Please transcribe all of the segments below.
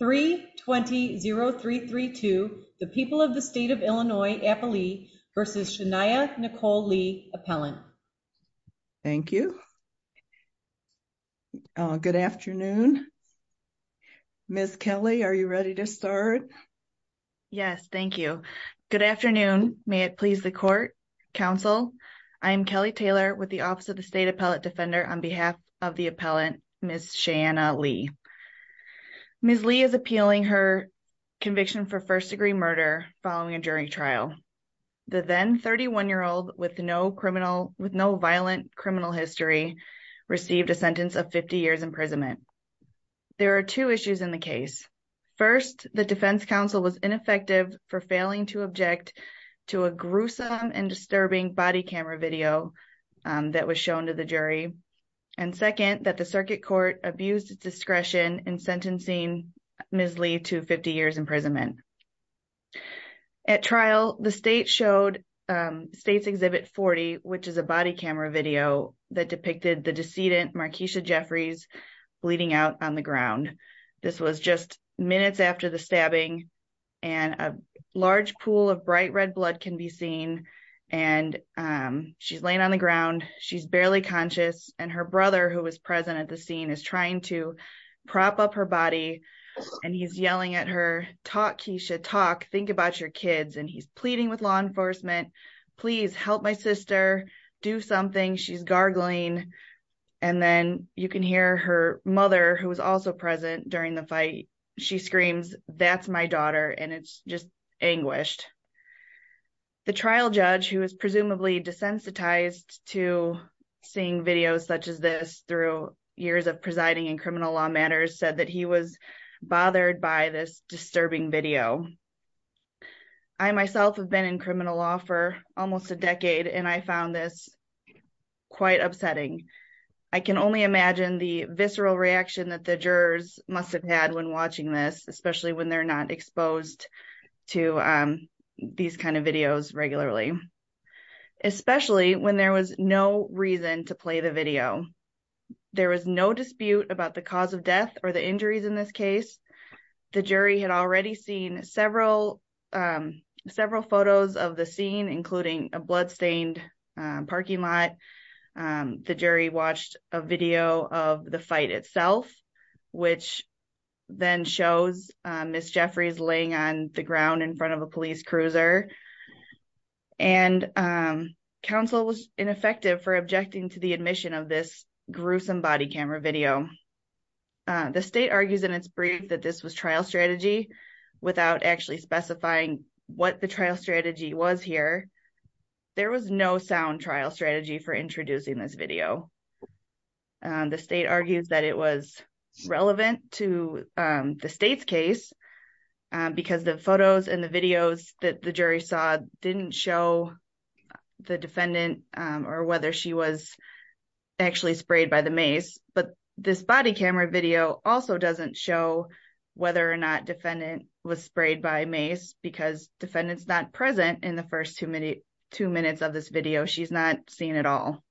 320-332, the people of the state of Illinois, Appalachia v. Shania Nicole Lee, Appellant. Thank you. Good afternoon. Ms. Kelly, are you ready to start? Yes, thank you. Good afternoon. May it please the court, counsel. I am Kelly Taylor with the Office of the State Appellate Defender on behalf of the Appellant Ms. Shania Lee. Ms. Lee is appealing her conviction for first-degree murder following a jury trial. The then 31-year-old with no violent criminal history received a sentence of 50 years imprisonment. There are two issues in the case. First, the defense counsel was ineffective for failing to object to a gruesome and disturbing body camera video that was shown to the jury, and second, that the circuit court abused its discretion in sentencing Ms. Lee to 50 years imprisonment. At trial, the state showed State's Exhibit 40, which is a body camera video that depicted the decedent, Markeisha Jeffries, bleeding out on the ground. This was just minutes after the stabbing, and a large pool of bright red blood can be seen, and she's laying on the ground. She's barely conscious, and her brother, who was present at the scene, is trying to prop up her body, and he's yelling at her, talk, Keisha, talk, think about your kids, and he's pleading with law enforcement, please help my sister, do something. She's gargling, and then you can hear her mother, who was also present during the fight, she screams, that's my daughter, and it's just anguished. The trial judge, who was presumably desensitized to seeing videos such as this through years of presiding in criminal law matters, said that he was bothered by this disturbing video. I myself have been in criminal law for almost a decade, and I found this quite upsetting. I can only imagine the visceral reaction that the jurors must have had when watching this, especially when they're not exposed to these kind of videos regularly, especially when there was no reason to play the video. There was no dispute about the cause of death or the injuries in this case. The jury had already seen several photos of the scene, including a blood-stained parking lot. The jury watched a video of the fight itself, which then shows Ms. Jeffries laying on the ground in front of a police cruiser, and counsel was ineffective for objecting to the admission of this gruesome body camera video. The state argues in its brief that this was trial strategy, without actually specifying what the trial strategy was here. There was no sound trial strategy for introducing this video. The state argues that it was relevant to the state's case because the photos and the videos that the jury saw didn't show the defendant or whether she was actually sprayed by the mace, but this body camera video also doesn't show whether or not defendant was sprayed by mace because defendant's not present in the first two minutes of this video. She's not seen at all.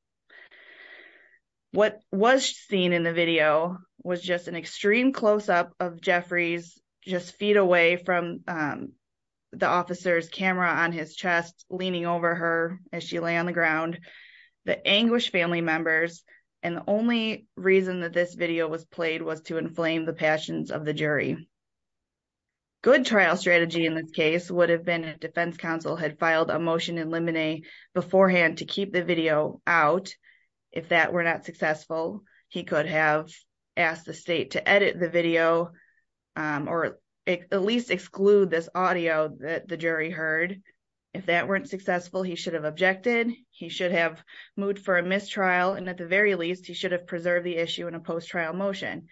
What was seen in the video was just an extreme close-up of Jeffries, just feet away from the officer's camera on his chest, leaning over her as she lay on the ground, the anguished family members, and the only reason that this video was played was to inflame the passions of the jury. Good trial strategy in this case would have been if defense counsel had filed a motion in limine beforehand to keep the video out. If that were not successful, he could have asked the state to edit the video or at least exclude this audio that the jury heard. If that weren't successful, he should have objected. He should have moved for a mistrial, and at the very least, he should have preserved the issue in a post-trial motion,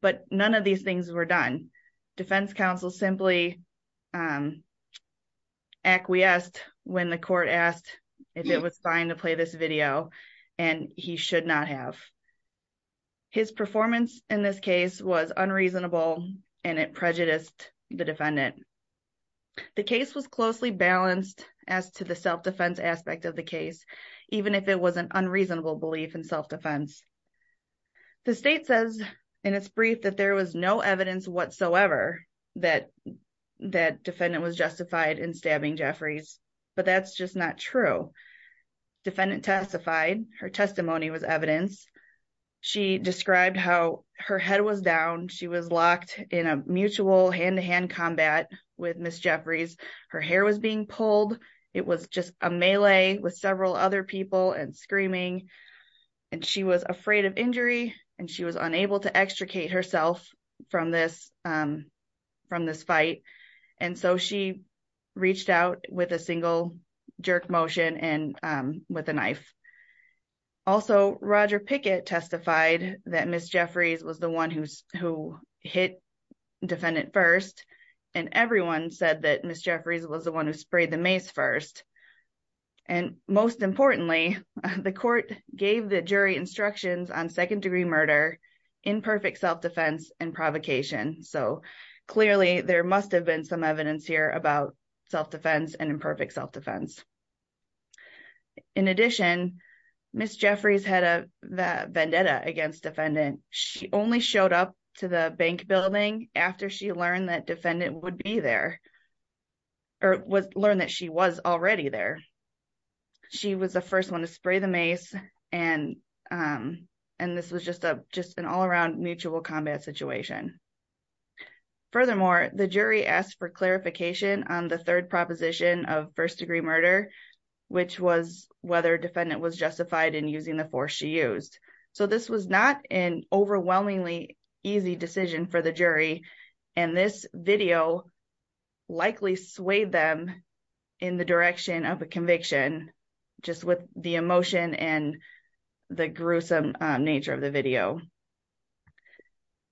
but none of these things were done. Defense counsel simply acquiesced when the court asked if it was fine to play this video, and he should not have. His performance in this case was unreasonable, and it prejudiced the defendant. The case was closely balanced as to the self-defense aspect of the case, even if it was an unreasonable belief in self-defense. The state says in its brief that there was no evidence whatsoever that the defendant was justified in stabbing Jeffries, but that's just not true. The defendant testified. Her testimony was evidence. She described how her head was down. She was locked in a mutual hand-to-hand combat with Ms. Jeffries. Her hair was being pulled. It was just a melee with several other people and screaming, and she was afraid of from this fight, and so she reached out with a single jerk motion and with a knife. Also, Roger Pickett testified that Ms. Jeffries was the one who hit defendant first, and everyone said that Ms. Jeffries was the one who sprayed the mace first, and most importantly, the court gave the jury instructions on second-degree murder, imperfect self-defense, and provocation, so clearly there must have been some evidence here about self-defense and imperfect self-defense. In addition, Ms. Jeffries had a vendetta against defendant. She only showed up to the bank building after she learned that defendant would be there or learned that she was already there. She was the first one to spray the mace, and this was just an all-around mutual combat situation. Furthermore, the jury asked for clarification on the third proposition of first-degree murder, which was whether defendant was justified in using the force she used, so this was not an overwhelmingly easy decision for the jury, and this video likely swayed them in the direction of a conviction just with the emotion and the gruesome nature of the video.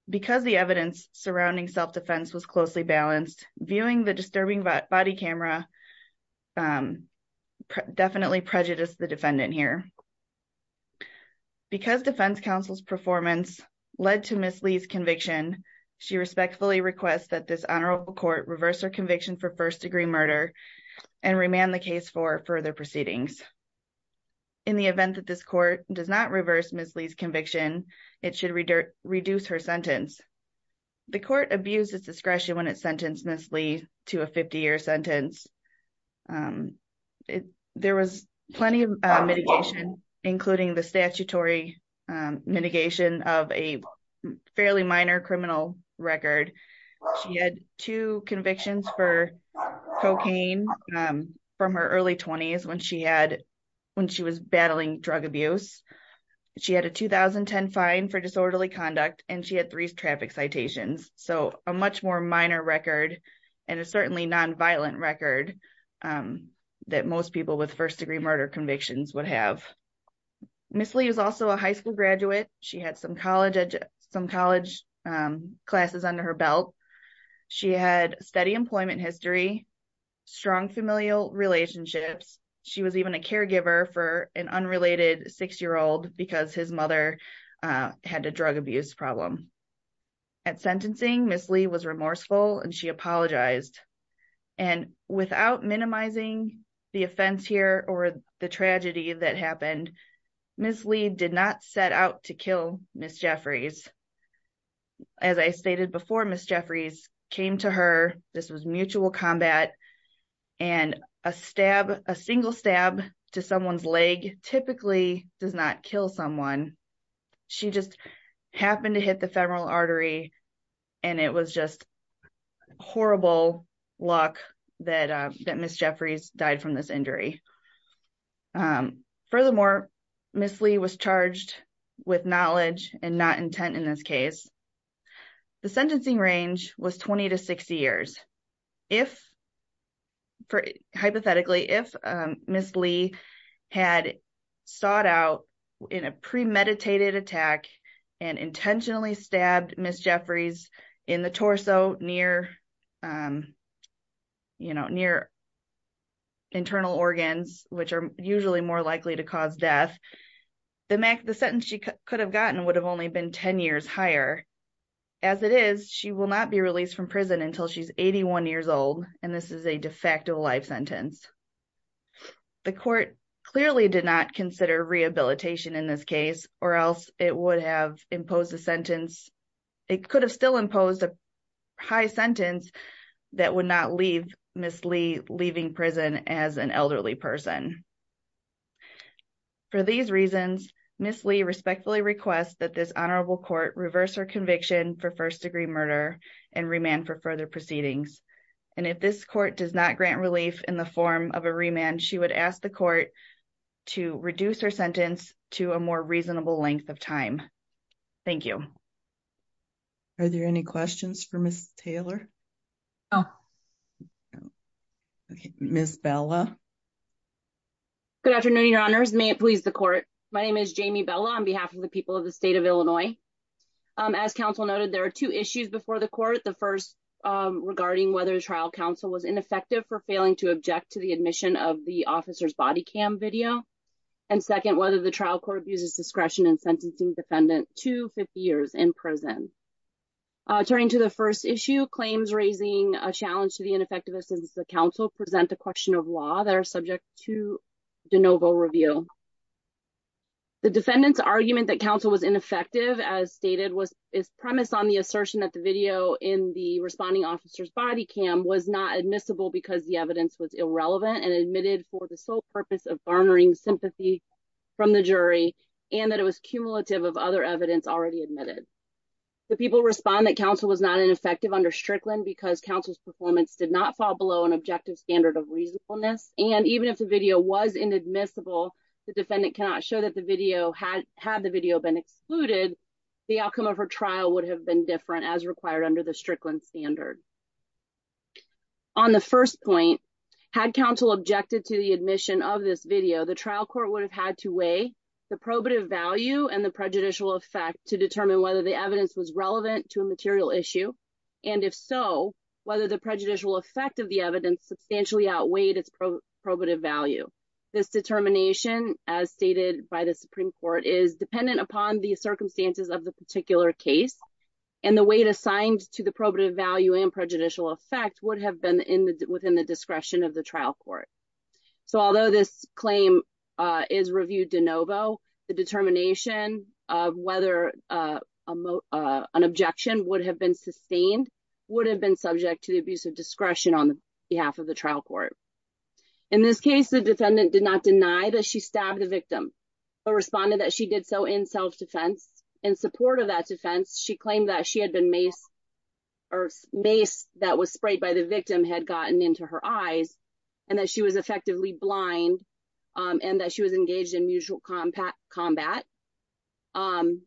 Because the evidence surrounding self-defense was closely balanced, viewing the disturbing body camera definitely prejudiced the defendant here. Because defense counsel's performance led to Ms. Lee's conviction, she respectfully requests that this honorable court reverse her conviction for first-degree murder and remand the case for further proceedings. In the event that this court does not reverse Ms. Lee's conviction, it should reduce her sentence. The court abused its discretion when it sentenced Ms. Lee to a 50-year sentence. There was plenty of mitigation, including the statutory mitigation of a fairly minor criminal record. She had two convictions for cocaine from her early 20s when she was battling drug abuse. She had a 2010 fine for disorderly conduct and she had three traffic citations, so a much more minor record and a certainly non-violent record that most people with first-degree murder convictions would have. Ms. Lee was also a high school graduate. She had some college classes under her belt. She had steady employment history, strong familial relationships. She was even a caregiver for an unrelated six-year-old because his mother had a drug abuse problem. At sentencing, Ms. Lee was remorseful and she apologized. And without minimizing the offense here or the tragedy that happened, Ms. Lee did not set out to kill Ms. Jeffries. As I stated before, Ms. Jeffries came to her. This was mutual combat and a single stab to someone's leg typically does not kill someone. She just happened to hit the femoral artery and it was just horrible luck that Ms. Jeffries died from this injury. Furthermore, Ms. Lee was charged with knowledge and not intent in this case. The sentencing range was 20 to 60 years. Hypothetically, if Ms. Lee had sought out in a premeditated attack and intentionally stabbed Ms. Jeffries in the torso near her internal organs, which are usually more likely to cause death, the sentence she could have gotten would have only been 10 years higher. As it is, she will not be released from prison until she's 81 years old and this is a de facto life sentence. The court clearly did not consider rehabilitation in this case or else it would have imposed a high sentence that would not leave Ms. Lee leaving prison as an elderly person. For these reasons, Ms. Lee respectfully requests that this honorable court reverse her conviction for first-degree murder and remand for further proceedings. If this court does not grant relief in the form of a remand, she would ask the court to reduce her sentence to a more reasonable length of time. Thank you. Are there any questions for Ms. Taylor? Ms. Bella. Good afternoon, your honors. May it please the court. My name is Jamie Bella on behalf of the people of the state of Illinois. As counsel noted, there are two issues before the court. The first regarding whether the trial counsel was ineffective for failing to object to the admission of the officer's body cam video. And second, whether the trial court uses discretion in sentencing defendant to 50 years in prison. Turning to the first issue, claims raising a challenge to the ineffectiveness of the counsel present a question of law that are subject to de novo review. The defendant's argument that counsel was ineffective as stated was its premise on the assertion that the video in the responding officer's body cam was not admissible because the evidence was irrelevant and admitted for the sole purpose of garnering sympathy from the jury and that it was cumulative of other evidence already admitted. The people respond that counsel was not ineffective under Strickland because counsel's performance did not fall below an objective standard of reasonableness. And even if the video was inadmissible, the defendant cannot show that the video had had the video been excluded. The outcome of her trial would have been different as required under the Strickland standard. On the first point, had counsel objected to the admission of this video, the trial court would have had to weigh the probative value and the prejudicial effect to determine whether the evidence was relevant to a material issue. And if so, whether the prejudicial effect of the evidence substantially outweighed its probative value. This determination, as stated by the Supreme Court, is dependent upon the circumstances of the particular case and the weight assigned to the probative value and prejudicial effect would have been within the discretion of the trial court. So although this claim is reviewed de novo, the determination of whether an objection would have been sustained would have been subject to the abuse of discretion on behalf of the trial court. In this case, the defendant did not deny that she stabbed the victim, but responded that she did so in self-defense. In support of that defense, she claimed that she had mace that was sprayed by the victim had gotten into her eyes and that she was effectively blind and that she was engaged in mutual combat and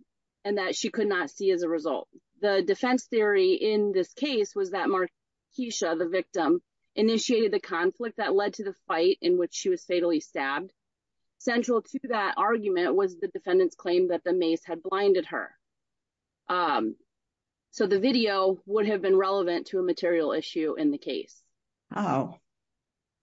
that she could not see as a result. The defense theory in this case was that Markeisha, the victim, initiated the conflict that led to the fight in which she was fatally stabbed. Central to that argument was the defendant's claim that the mace had blinded her. So the video would have been relevant to a material issue in the case.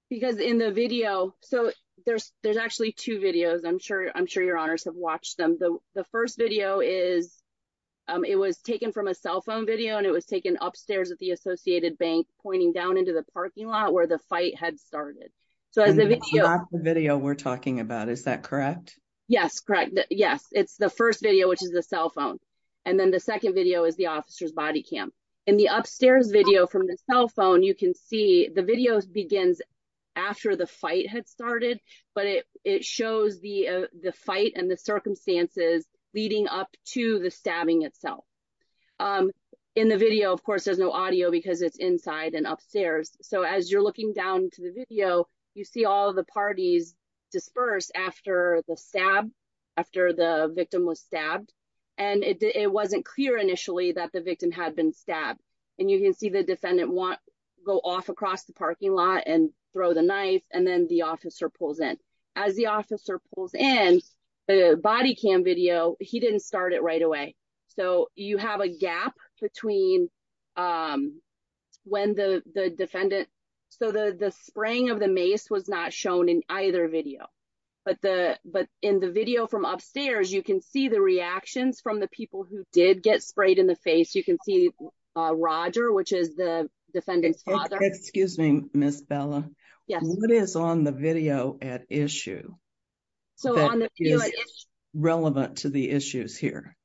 Because in the video, so there's actually two videos, I'm sure your honors have watched them. The first video is, it was taken from a cell phone video and it was taken upstairs at the Associated Bank pointing down into the parking lot where the fight had started. So as the video we're talking about, is that correct? Yes, correct. Yes. It's the first video, which is the cell phone. And then the second video is the officer's body cam. In the upstairs video from the cell phone, you can see the video begins after the fight had started, but it shows the fight and the circumstances leading up to the stabbing itself. In the video, of course, there's no audio because it's inside and upstairs. So as you're looking down to the video, you see all the parties disperse after the stab, after the victim was stabbed. And it wasn't clear initially that the victim had been stabbed. And you can see the defendant go off across the parking lot and throw the knife and then the officer pulls in. As the officer pulls in the body cam video, he didn't start it right away. So you have a gap between when the defendant... So the spraying of the mace was not shown in either video. But in the video from upstairs, you can see the reactions from the people who did get sprayed in the face. You can see Roger, which is the defendant's father. Excuse me, Ms. Bella. Yes. What is on the video at issue that is relevant to the issues here?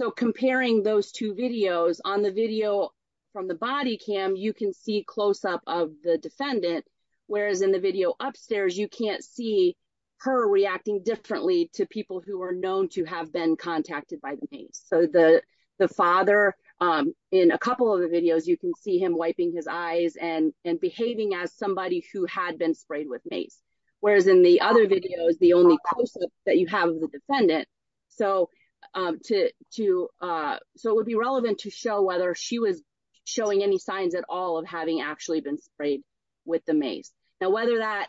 So comparing those two videos, on the video from the body cam, you can see close up of the defendant. Whereas in the video upstairs, you can't see her reacting differently to people who are known to have been contacted by the mace. So the father, in a couple of the videos, you can see him wiping his eyes and behaving as somebody who had been sprayed with mace. Whereas in the other videos, the only close up that you have of the defendant. So it would be relevant to show whether she was showing any signs at all of having actually been sprayed with the mace. Now, whether that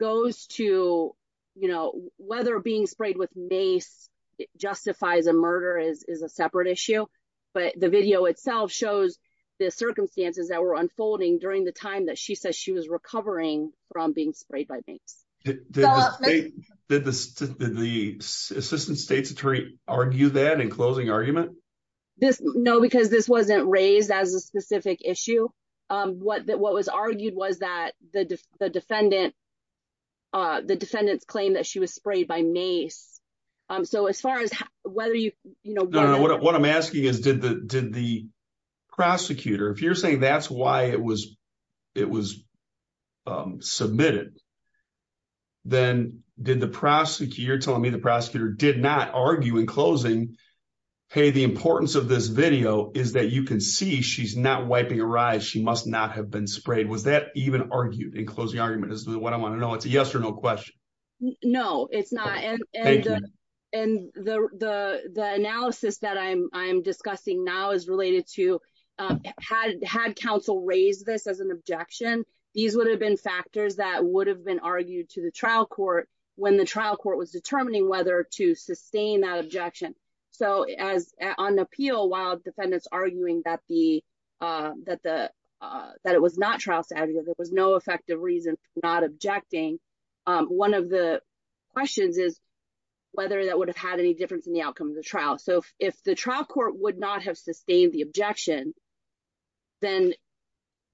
goes to, you know, whether being sprayed with mace justifies a murder is a separate issue. But the video itself shows the circumstances that were unfolding during the time that she was recovering from being sprayed by mace. Did the Assistant State's Attorney argue that in closing argument? No, because this wasn't raised as a specific issue. What was argued was that the defendant, the defendant's claim that she was sprayed by mace. So as far as whether you, you know. No, no. What I'm asking is, did the prosecutor, if you're saying that's why it was, um, submitted, then did the prosecutor, you're telling me the prosecutor did not argue in closing, hey, the importance of this video is that you can see she's not wiping her eyes. She must not have been sprayed. Was that even argued in closing argument is what I want to know. It's a yes or no question. No, it's not. And, and the, the, the analysis that I'm, I'm discussing now is related to, um, had, had counsel raised this as an objection, these would have been factors that would have been argued to the trial court when the trial court was determining whether to sustain that objection. So as on appeal, while defendants arguing that the, uh, that the, uh, that it was not trial savvy, there was no effective reason for not objecting. Um, one of the questions is whether that would have had any difference in the outcome of the trial. So if the trial court would not have sustained the objection, then,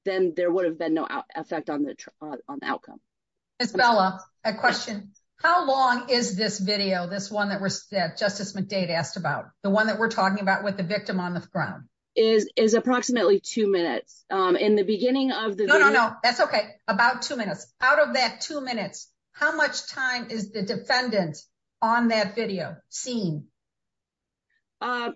then there would have been no effect on the, uh, on the outcome. Miss Bella, a question. How long is this video? This one that we're, that justice McDade asked about the one that we're talking about with the victim on the ground is, is approximately two minutes. Um, in the beginning of the, no, no, no, that's okay. About two minutes out of that two minutes. How much time is the defendant on that video scene? Um,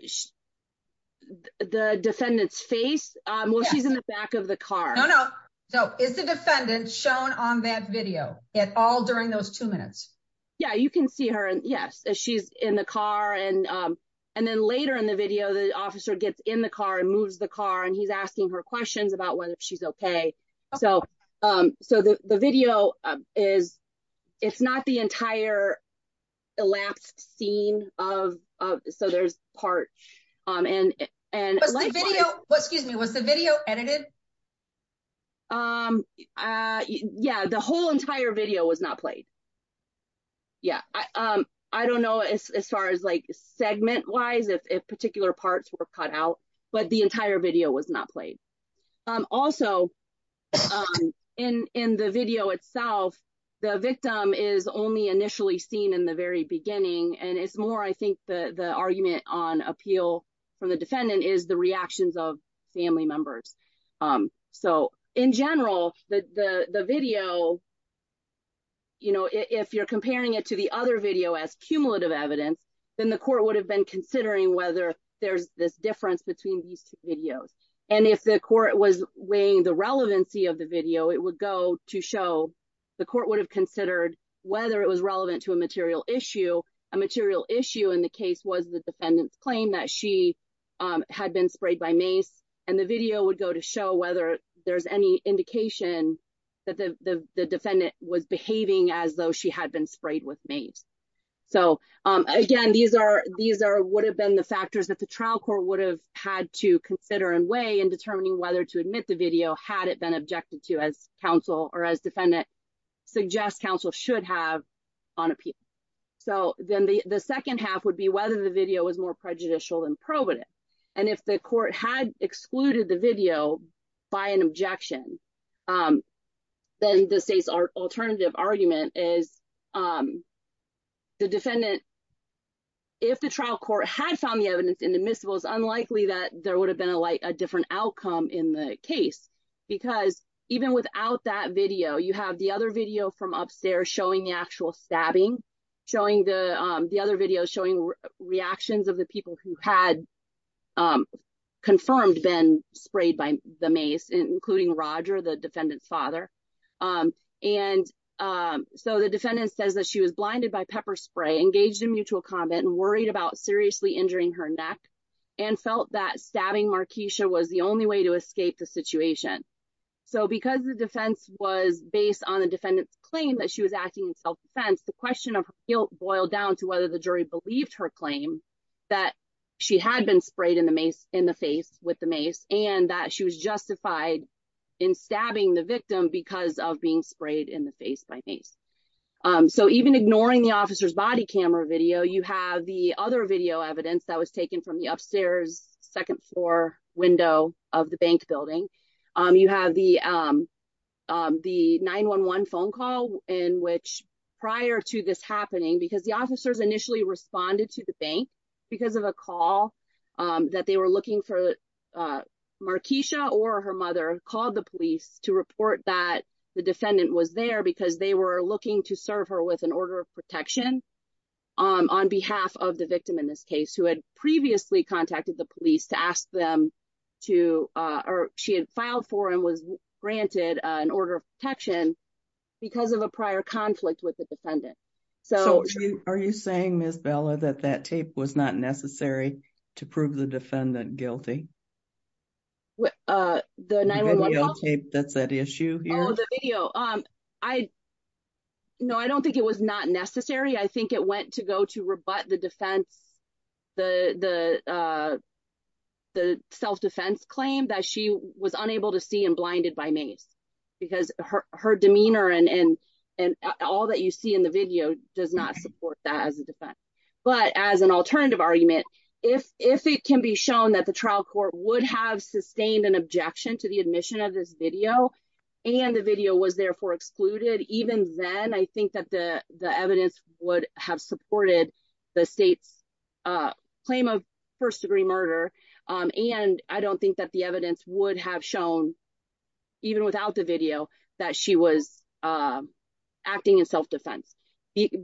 the defendant's face, um, well, she's in the back of the car. No, no. So is the defendant shown on that video at all during those two minutes? Yeah, you can see her. And yes, she's in the car. And, um, and then later in the video, the officer gets in the car and moves the car and he's asking her questions about whether she's okay. So, um, so the, the video is, it's not the so there's part, um, and, and excuse me, was the video edited? Um, uh, yeah, the whole entire video was not played. Yeah. Um, I don't know as far as like segment wise, if particular parts were cut out, but the entire video was not played. Um, also in, in the video itself, the victim is only initially seen in the very beginning. And it's the, the argument on appeal from the defendant is the reactions of family members. Um, so in general, the, the, the video, you know, if you're comparing it to the other video as cumulative evidence, then the court would have been considering whether there's this difference between these videos. And if the court was weighing the relevancy of the video, it would go to show the court would have considered whether it was relevant to a material issue, a material issue in the case was the defendant's claim that she, um, had been sprayed by mace. And the video would go to show whether there's any indication that the defendant was behaving as though she had been sprayed with maize. So, um, again, these are, these are, would have been the factors that the trial court would have had to consider and weigh in determining whether to suggest counsel should have on appeal. So then the second half would be whether the video was more prejudicial than proven. And if the court had excluded the video by an objection, um, then the state's alternative argument is, um, the defendant, if the trial court had found the evidence in the miscibles, unlikely that there would have been a light, a different outcome in case, because even without that video, you have the other video from upstairs showing the actual stabbing, showing the, um, the other videos showing reactions of the people who had, um, confirmed been sprayed by the mace, including Roger, the defendant's father. Um, and, um, so the defendant says that she was blinded by pepper spray, engaged in mutual comment and worried about seriously injuring her neck and felt that stabbing Marquisha was the only way to escape the situation. So because the defense was based on the defendant's claim that she was acting in self-defense, the question of guilt boiled down to whether the jury believed her claim that she had been sprayed in the mace in the face with the mace, and that she was justified in stabbing the victim because of being sprayed in the face by mace. Um, so even ignoring the officer's body camera video, you have the other video evidence that was taken from the upstairs second floor window of the bank building. Um, you have the, um, um, the 911 phone call in which prior to this happening, because the officers initially responded to the bank because of a call, um, that they were looking for, uh, Marquisha or her mother called the police to report that the defendant was there because they were looking to serve her with an order of protection because of a prior conflict with the defendant. So are you saying, Miss Bella, that that tape was not necessary to prove the defendant guilty? Well, uh, the 9-1-1 tape, that's that issue here? Oh, the video. Um, I, no, I don't think it was not necessary. I think it went to go to rebut the defense, the, the, uh, the self-defense claim that she was unable to see and blinded by mace because her, her demeanor and, and, and all that you see in the video does not support that as a defense. But as an alternative argument, if, if it can be shown that the trial court would have sustained an objection to the admission of this and the video was therefore excluded, even then I think that the, the evidence would have supported the state's, uh, claim of first degree murder. Um, and I don't think that the evidence would have shown even without the video that she was, um, acting in self-defense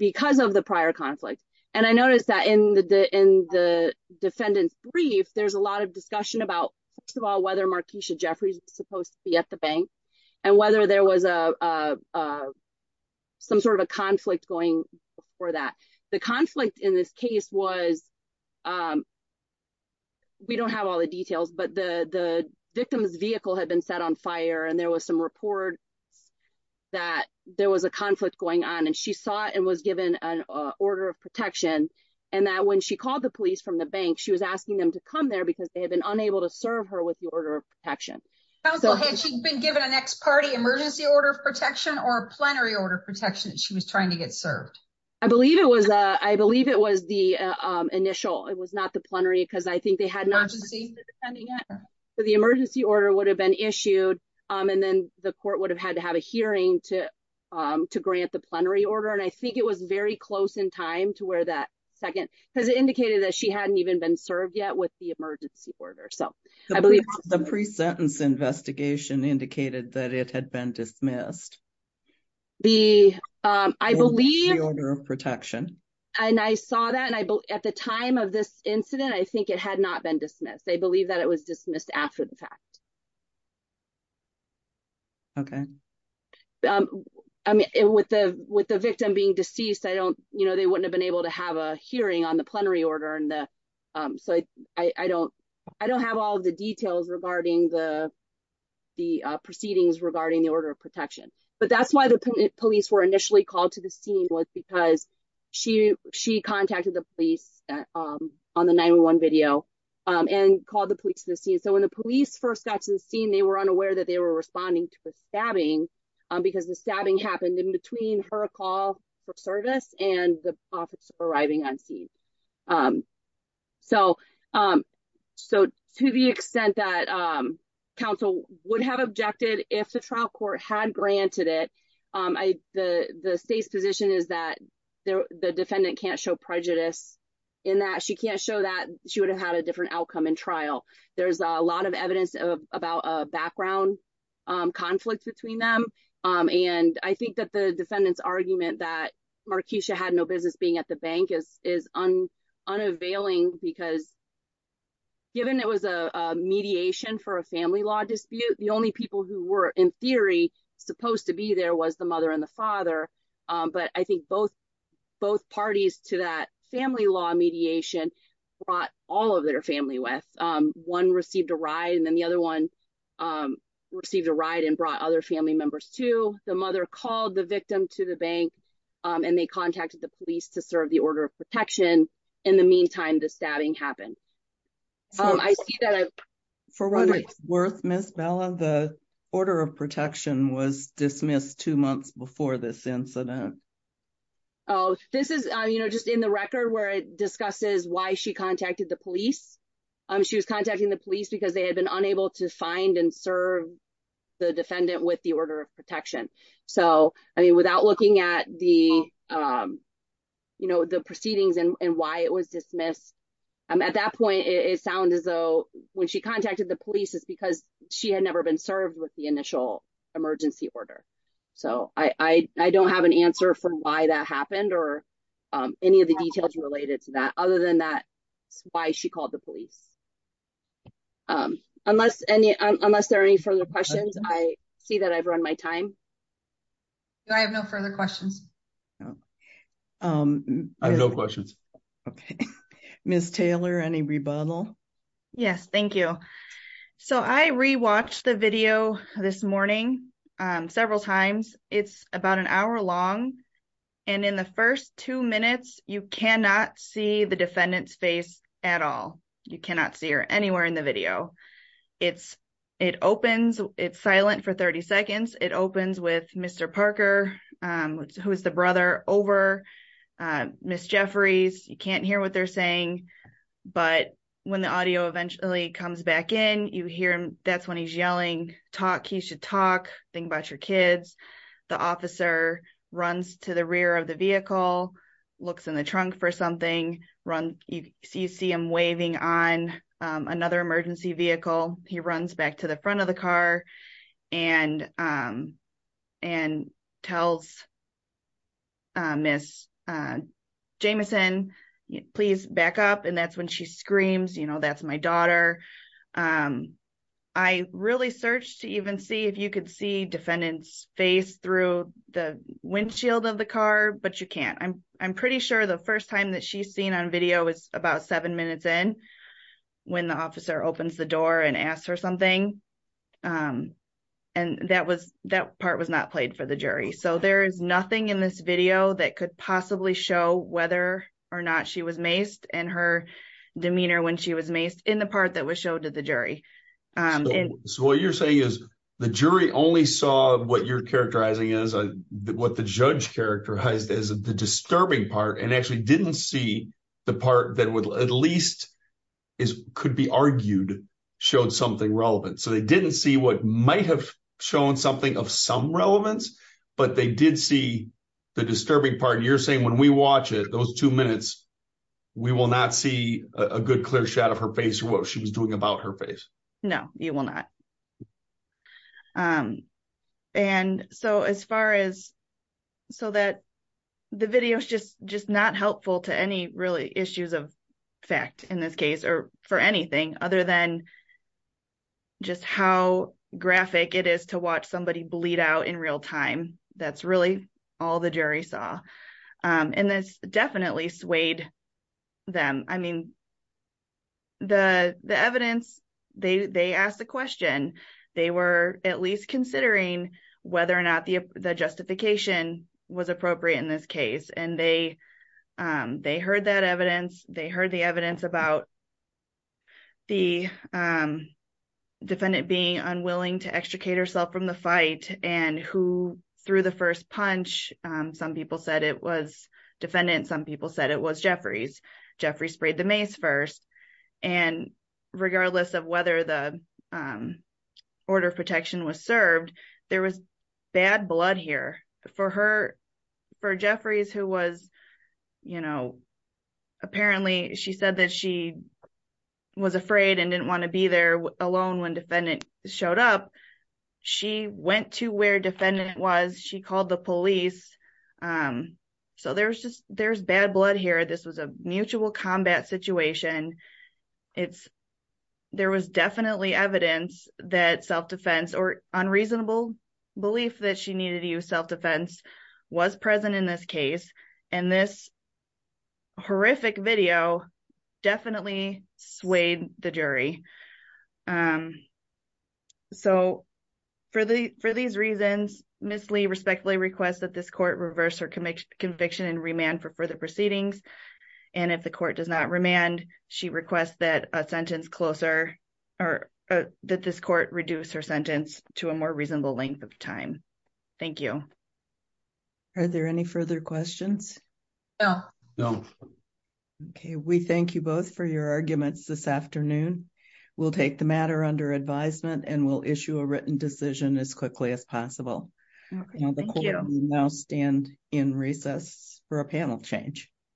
because of the prior conflict. And I noticed that in the, the, in the defendant's brief, there's a lot of discussion about, first of all, whether Markeisha Jeffries was supposed to be at the bank and whether there was a, uh, uh, some sort of a conflict going for that. The conflict in this case was, um, we don't have all the details, but the, the victim's vehicle had been set on fire and there was some report that there was a conflict going on and she saw it and was given an order of protection. And that when she called the police from the bank, she was asking them to come there because they had been unable to serve her with the order of protection. Counsel, had she been given an ex-party emergency order of protection or a plenary order of protection that she was trying to get served? I believe it was, uh, I believe it was the, um, initial, it was not the plenary because I think they had not seen it. So the emergency order would have been issued, um, and then the court would have had to have a hearing to, um, to grant the plenary order. And I think it was very close in time to where that second, because it indicated that she had not received the emergency order. So I believe. The pre-sentence investigation indicated that it had been dismissed. The, um, I believe. The order of protection. And I saw that and I, at the time of this incident, I think it had not been dismissed. They believe that it was dismissed after the fact. Okay. Um, I mean, with the, with the victim being deceased, I don't, you know, they wouldn't have been able to have a hearing on the plenary order and the, um, so I, I don't, I don't have all of the details regarding the, the, uh, proceedings regarding the order of protection, but that's why the police were initially called to the scene was because she, she contacted the police, um, on the 911 video, um, and called the police to the scene. So when the police first got to the scene, they were unaware that they were responding to a stabbing, um, because the stabbing happened in between her call for service and the profits arriving on scene. Um, so, um, so to the extent that, um, council would have objected if the trial court had granted it, um, I, the, the state's position is that the defendant can't show prejudice in that she can't show that she would have had a different outcome in trial. There's a lot of evidence of, about a background, um, conflict between them. Um, and I think that the defendant's argument that Markeisha had no business being at the bank is, is unavailing because given it was a mediation for a family law dispute, the only people who were in theory supposed to be there was the mother and the father. Um, but I think both, both parties to that family law mediation brought all of their family with, um, one received a ride and then the other one, um, received a ride and brought other family members too. The mother called the victim to the bank, um, and they contacted the police to serve the order of protection. In the meantime, the stabbing happened. Um, I see that. For what it's worth, Miss Bella, the order of protection was dismissed two months before this incident. Oh, this is, um, you know, just in the record where it discusses why she contacted the police. Um, she was contacting the police because they had been unable to find and serve the defendant with the order of protection. So, I mean, without looking at the, um, you know, the proceedings and why it was dismissed, um, at that point it sounded as though when she contacted the police, it's because she had never been served with the initial emergency order. So I, I, I don't have an answer for why that happened or, um, any of the details related to that other than that why she called the police. Um, unless any, unless there are any further questions, I see that I've run my time. Do I have no further questions? Um, I have no questions. Okay, Miss Taylor, any rebuttal? Yes, thank you. So I re-watched the video this morning, um, several times. It's about an hour long and in the first two minutes you cannot see the defendant's face at all. You cannot see her anywhere in the video. It's, it opens, it's silent for 30 seconds. It opens with Mr. Parker, um, who is the brother over, uh, Miss Jeffries. You can't hear what they're saying, but when the audio eventually comes back in, you hear him, that's when he's yelling, talk, you should talk, think about your kids. The officer runs to the rear of the vehicle, looks in the trunk for something, run, you see him waving on, um, another emergency vehicle. He runs back to the front of the car and, um, and tells, uh, Miss, uh, Jamison, please back up. And that's when she screams, you know, that's my daughter. Um, I really searched to even see if you could see defendant's face through the windshield of the car, but you can't. I'm, I'm pretty sure the first time that she's seen on video is about seven minutes in when the officer opens the door and asks her something. Um, and that was, that part was not played for the or not she was maced and her demeanor when she was maced in the part that was showed to the jury. So what you're saying is the jury only saw what you're characterizing as a, what the judge characterized as the disturbing part and actually didn't see the part that would at least is, could be argued, showed something relevant. So they didn't see what might have shown something of some relevance, but they did see the disturbing part. And you're saying when we watch it, those two minutes, we will not see a good clear shot of her face, what she was doing about her face. No, you will not. Um, and so as far as, so that the video is just, just not helpful to any really issues of fact in this case or for anything other than just how graphic it is to all the jury saw. Um, and this definitely swayed them. I mean, the, the evidence they, they asked the question, they were at least considering whether or not the, the justification was appropriate in this case. And they, um, they heard that evidence. They heard the evidence about the, um, defendant being unwilling to extricate herself from the fight and who threw the first punch. Um, some people said it was defendant. Some people said it was Jeffrey's. Jeffrey sprayed the mace first and regardless of whether the, um, order of protection was served, there was bad here for her, for Jeffrey's who was, you know, apparently she said that she was afraid and didn't want to be there alone. When defendant showed up, she went to where defendant was, she called the police. Um, so there's just, there's bad blood here. This was a mutual combat situation. It's, there was definitely evidence that self-defense or unreasonable belief that she needed to use self-defense was present in this case. And this horrific video definitely swayed the jury. Um, so for the, for these reasons, Ms. Lee respectfully requests that this court reverse her conviction and remand for further proceedings. And if the court does not remand, she requests that a sentence closer or that this court reduce her sentence to a more reasonable length of time. Thank you. Are there any further questions? No. No. Okay. We thank you both for your arguments this afternoon. We'll take the matter under advisement and we'll issue a written decision as quickly as possible. Now stand in recess for a panel change.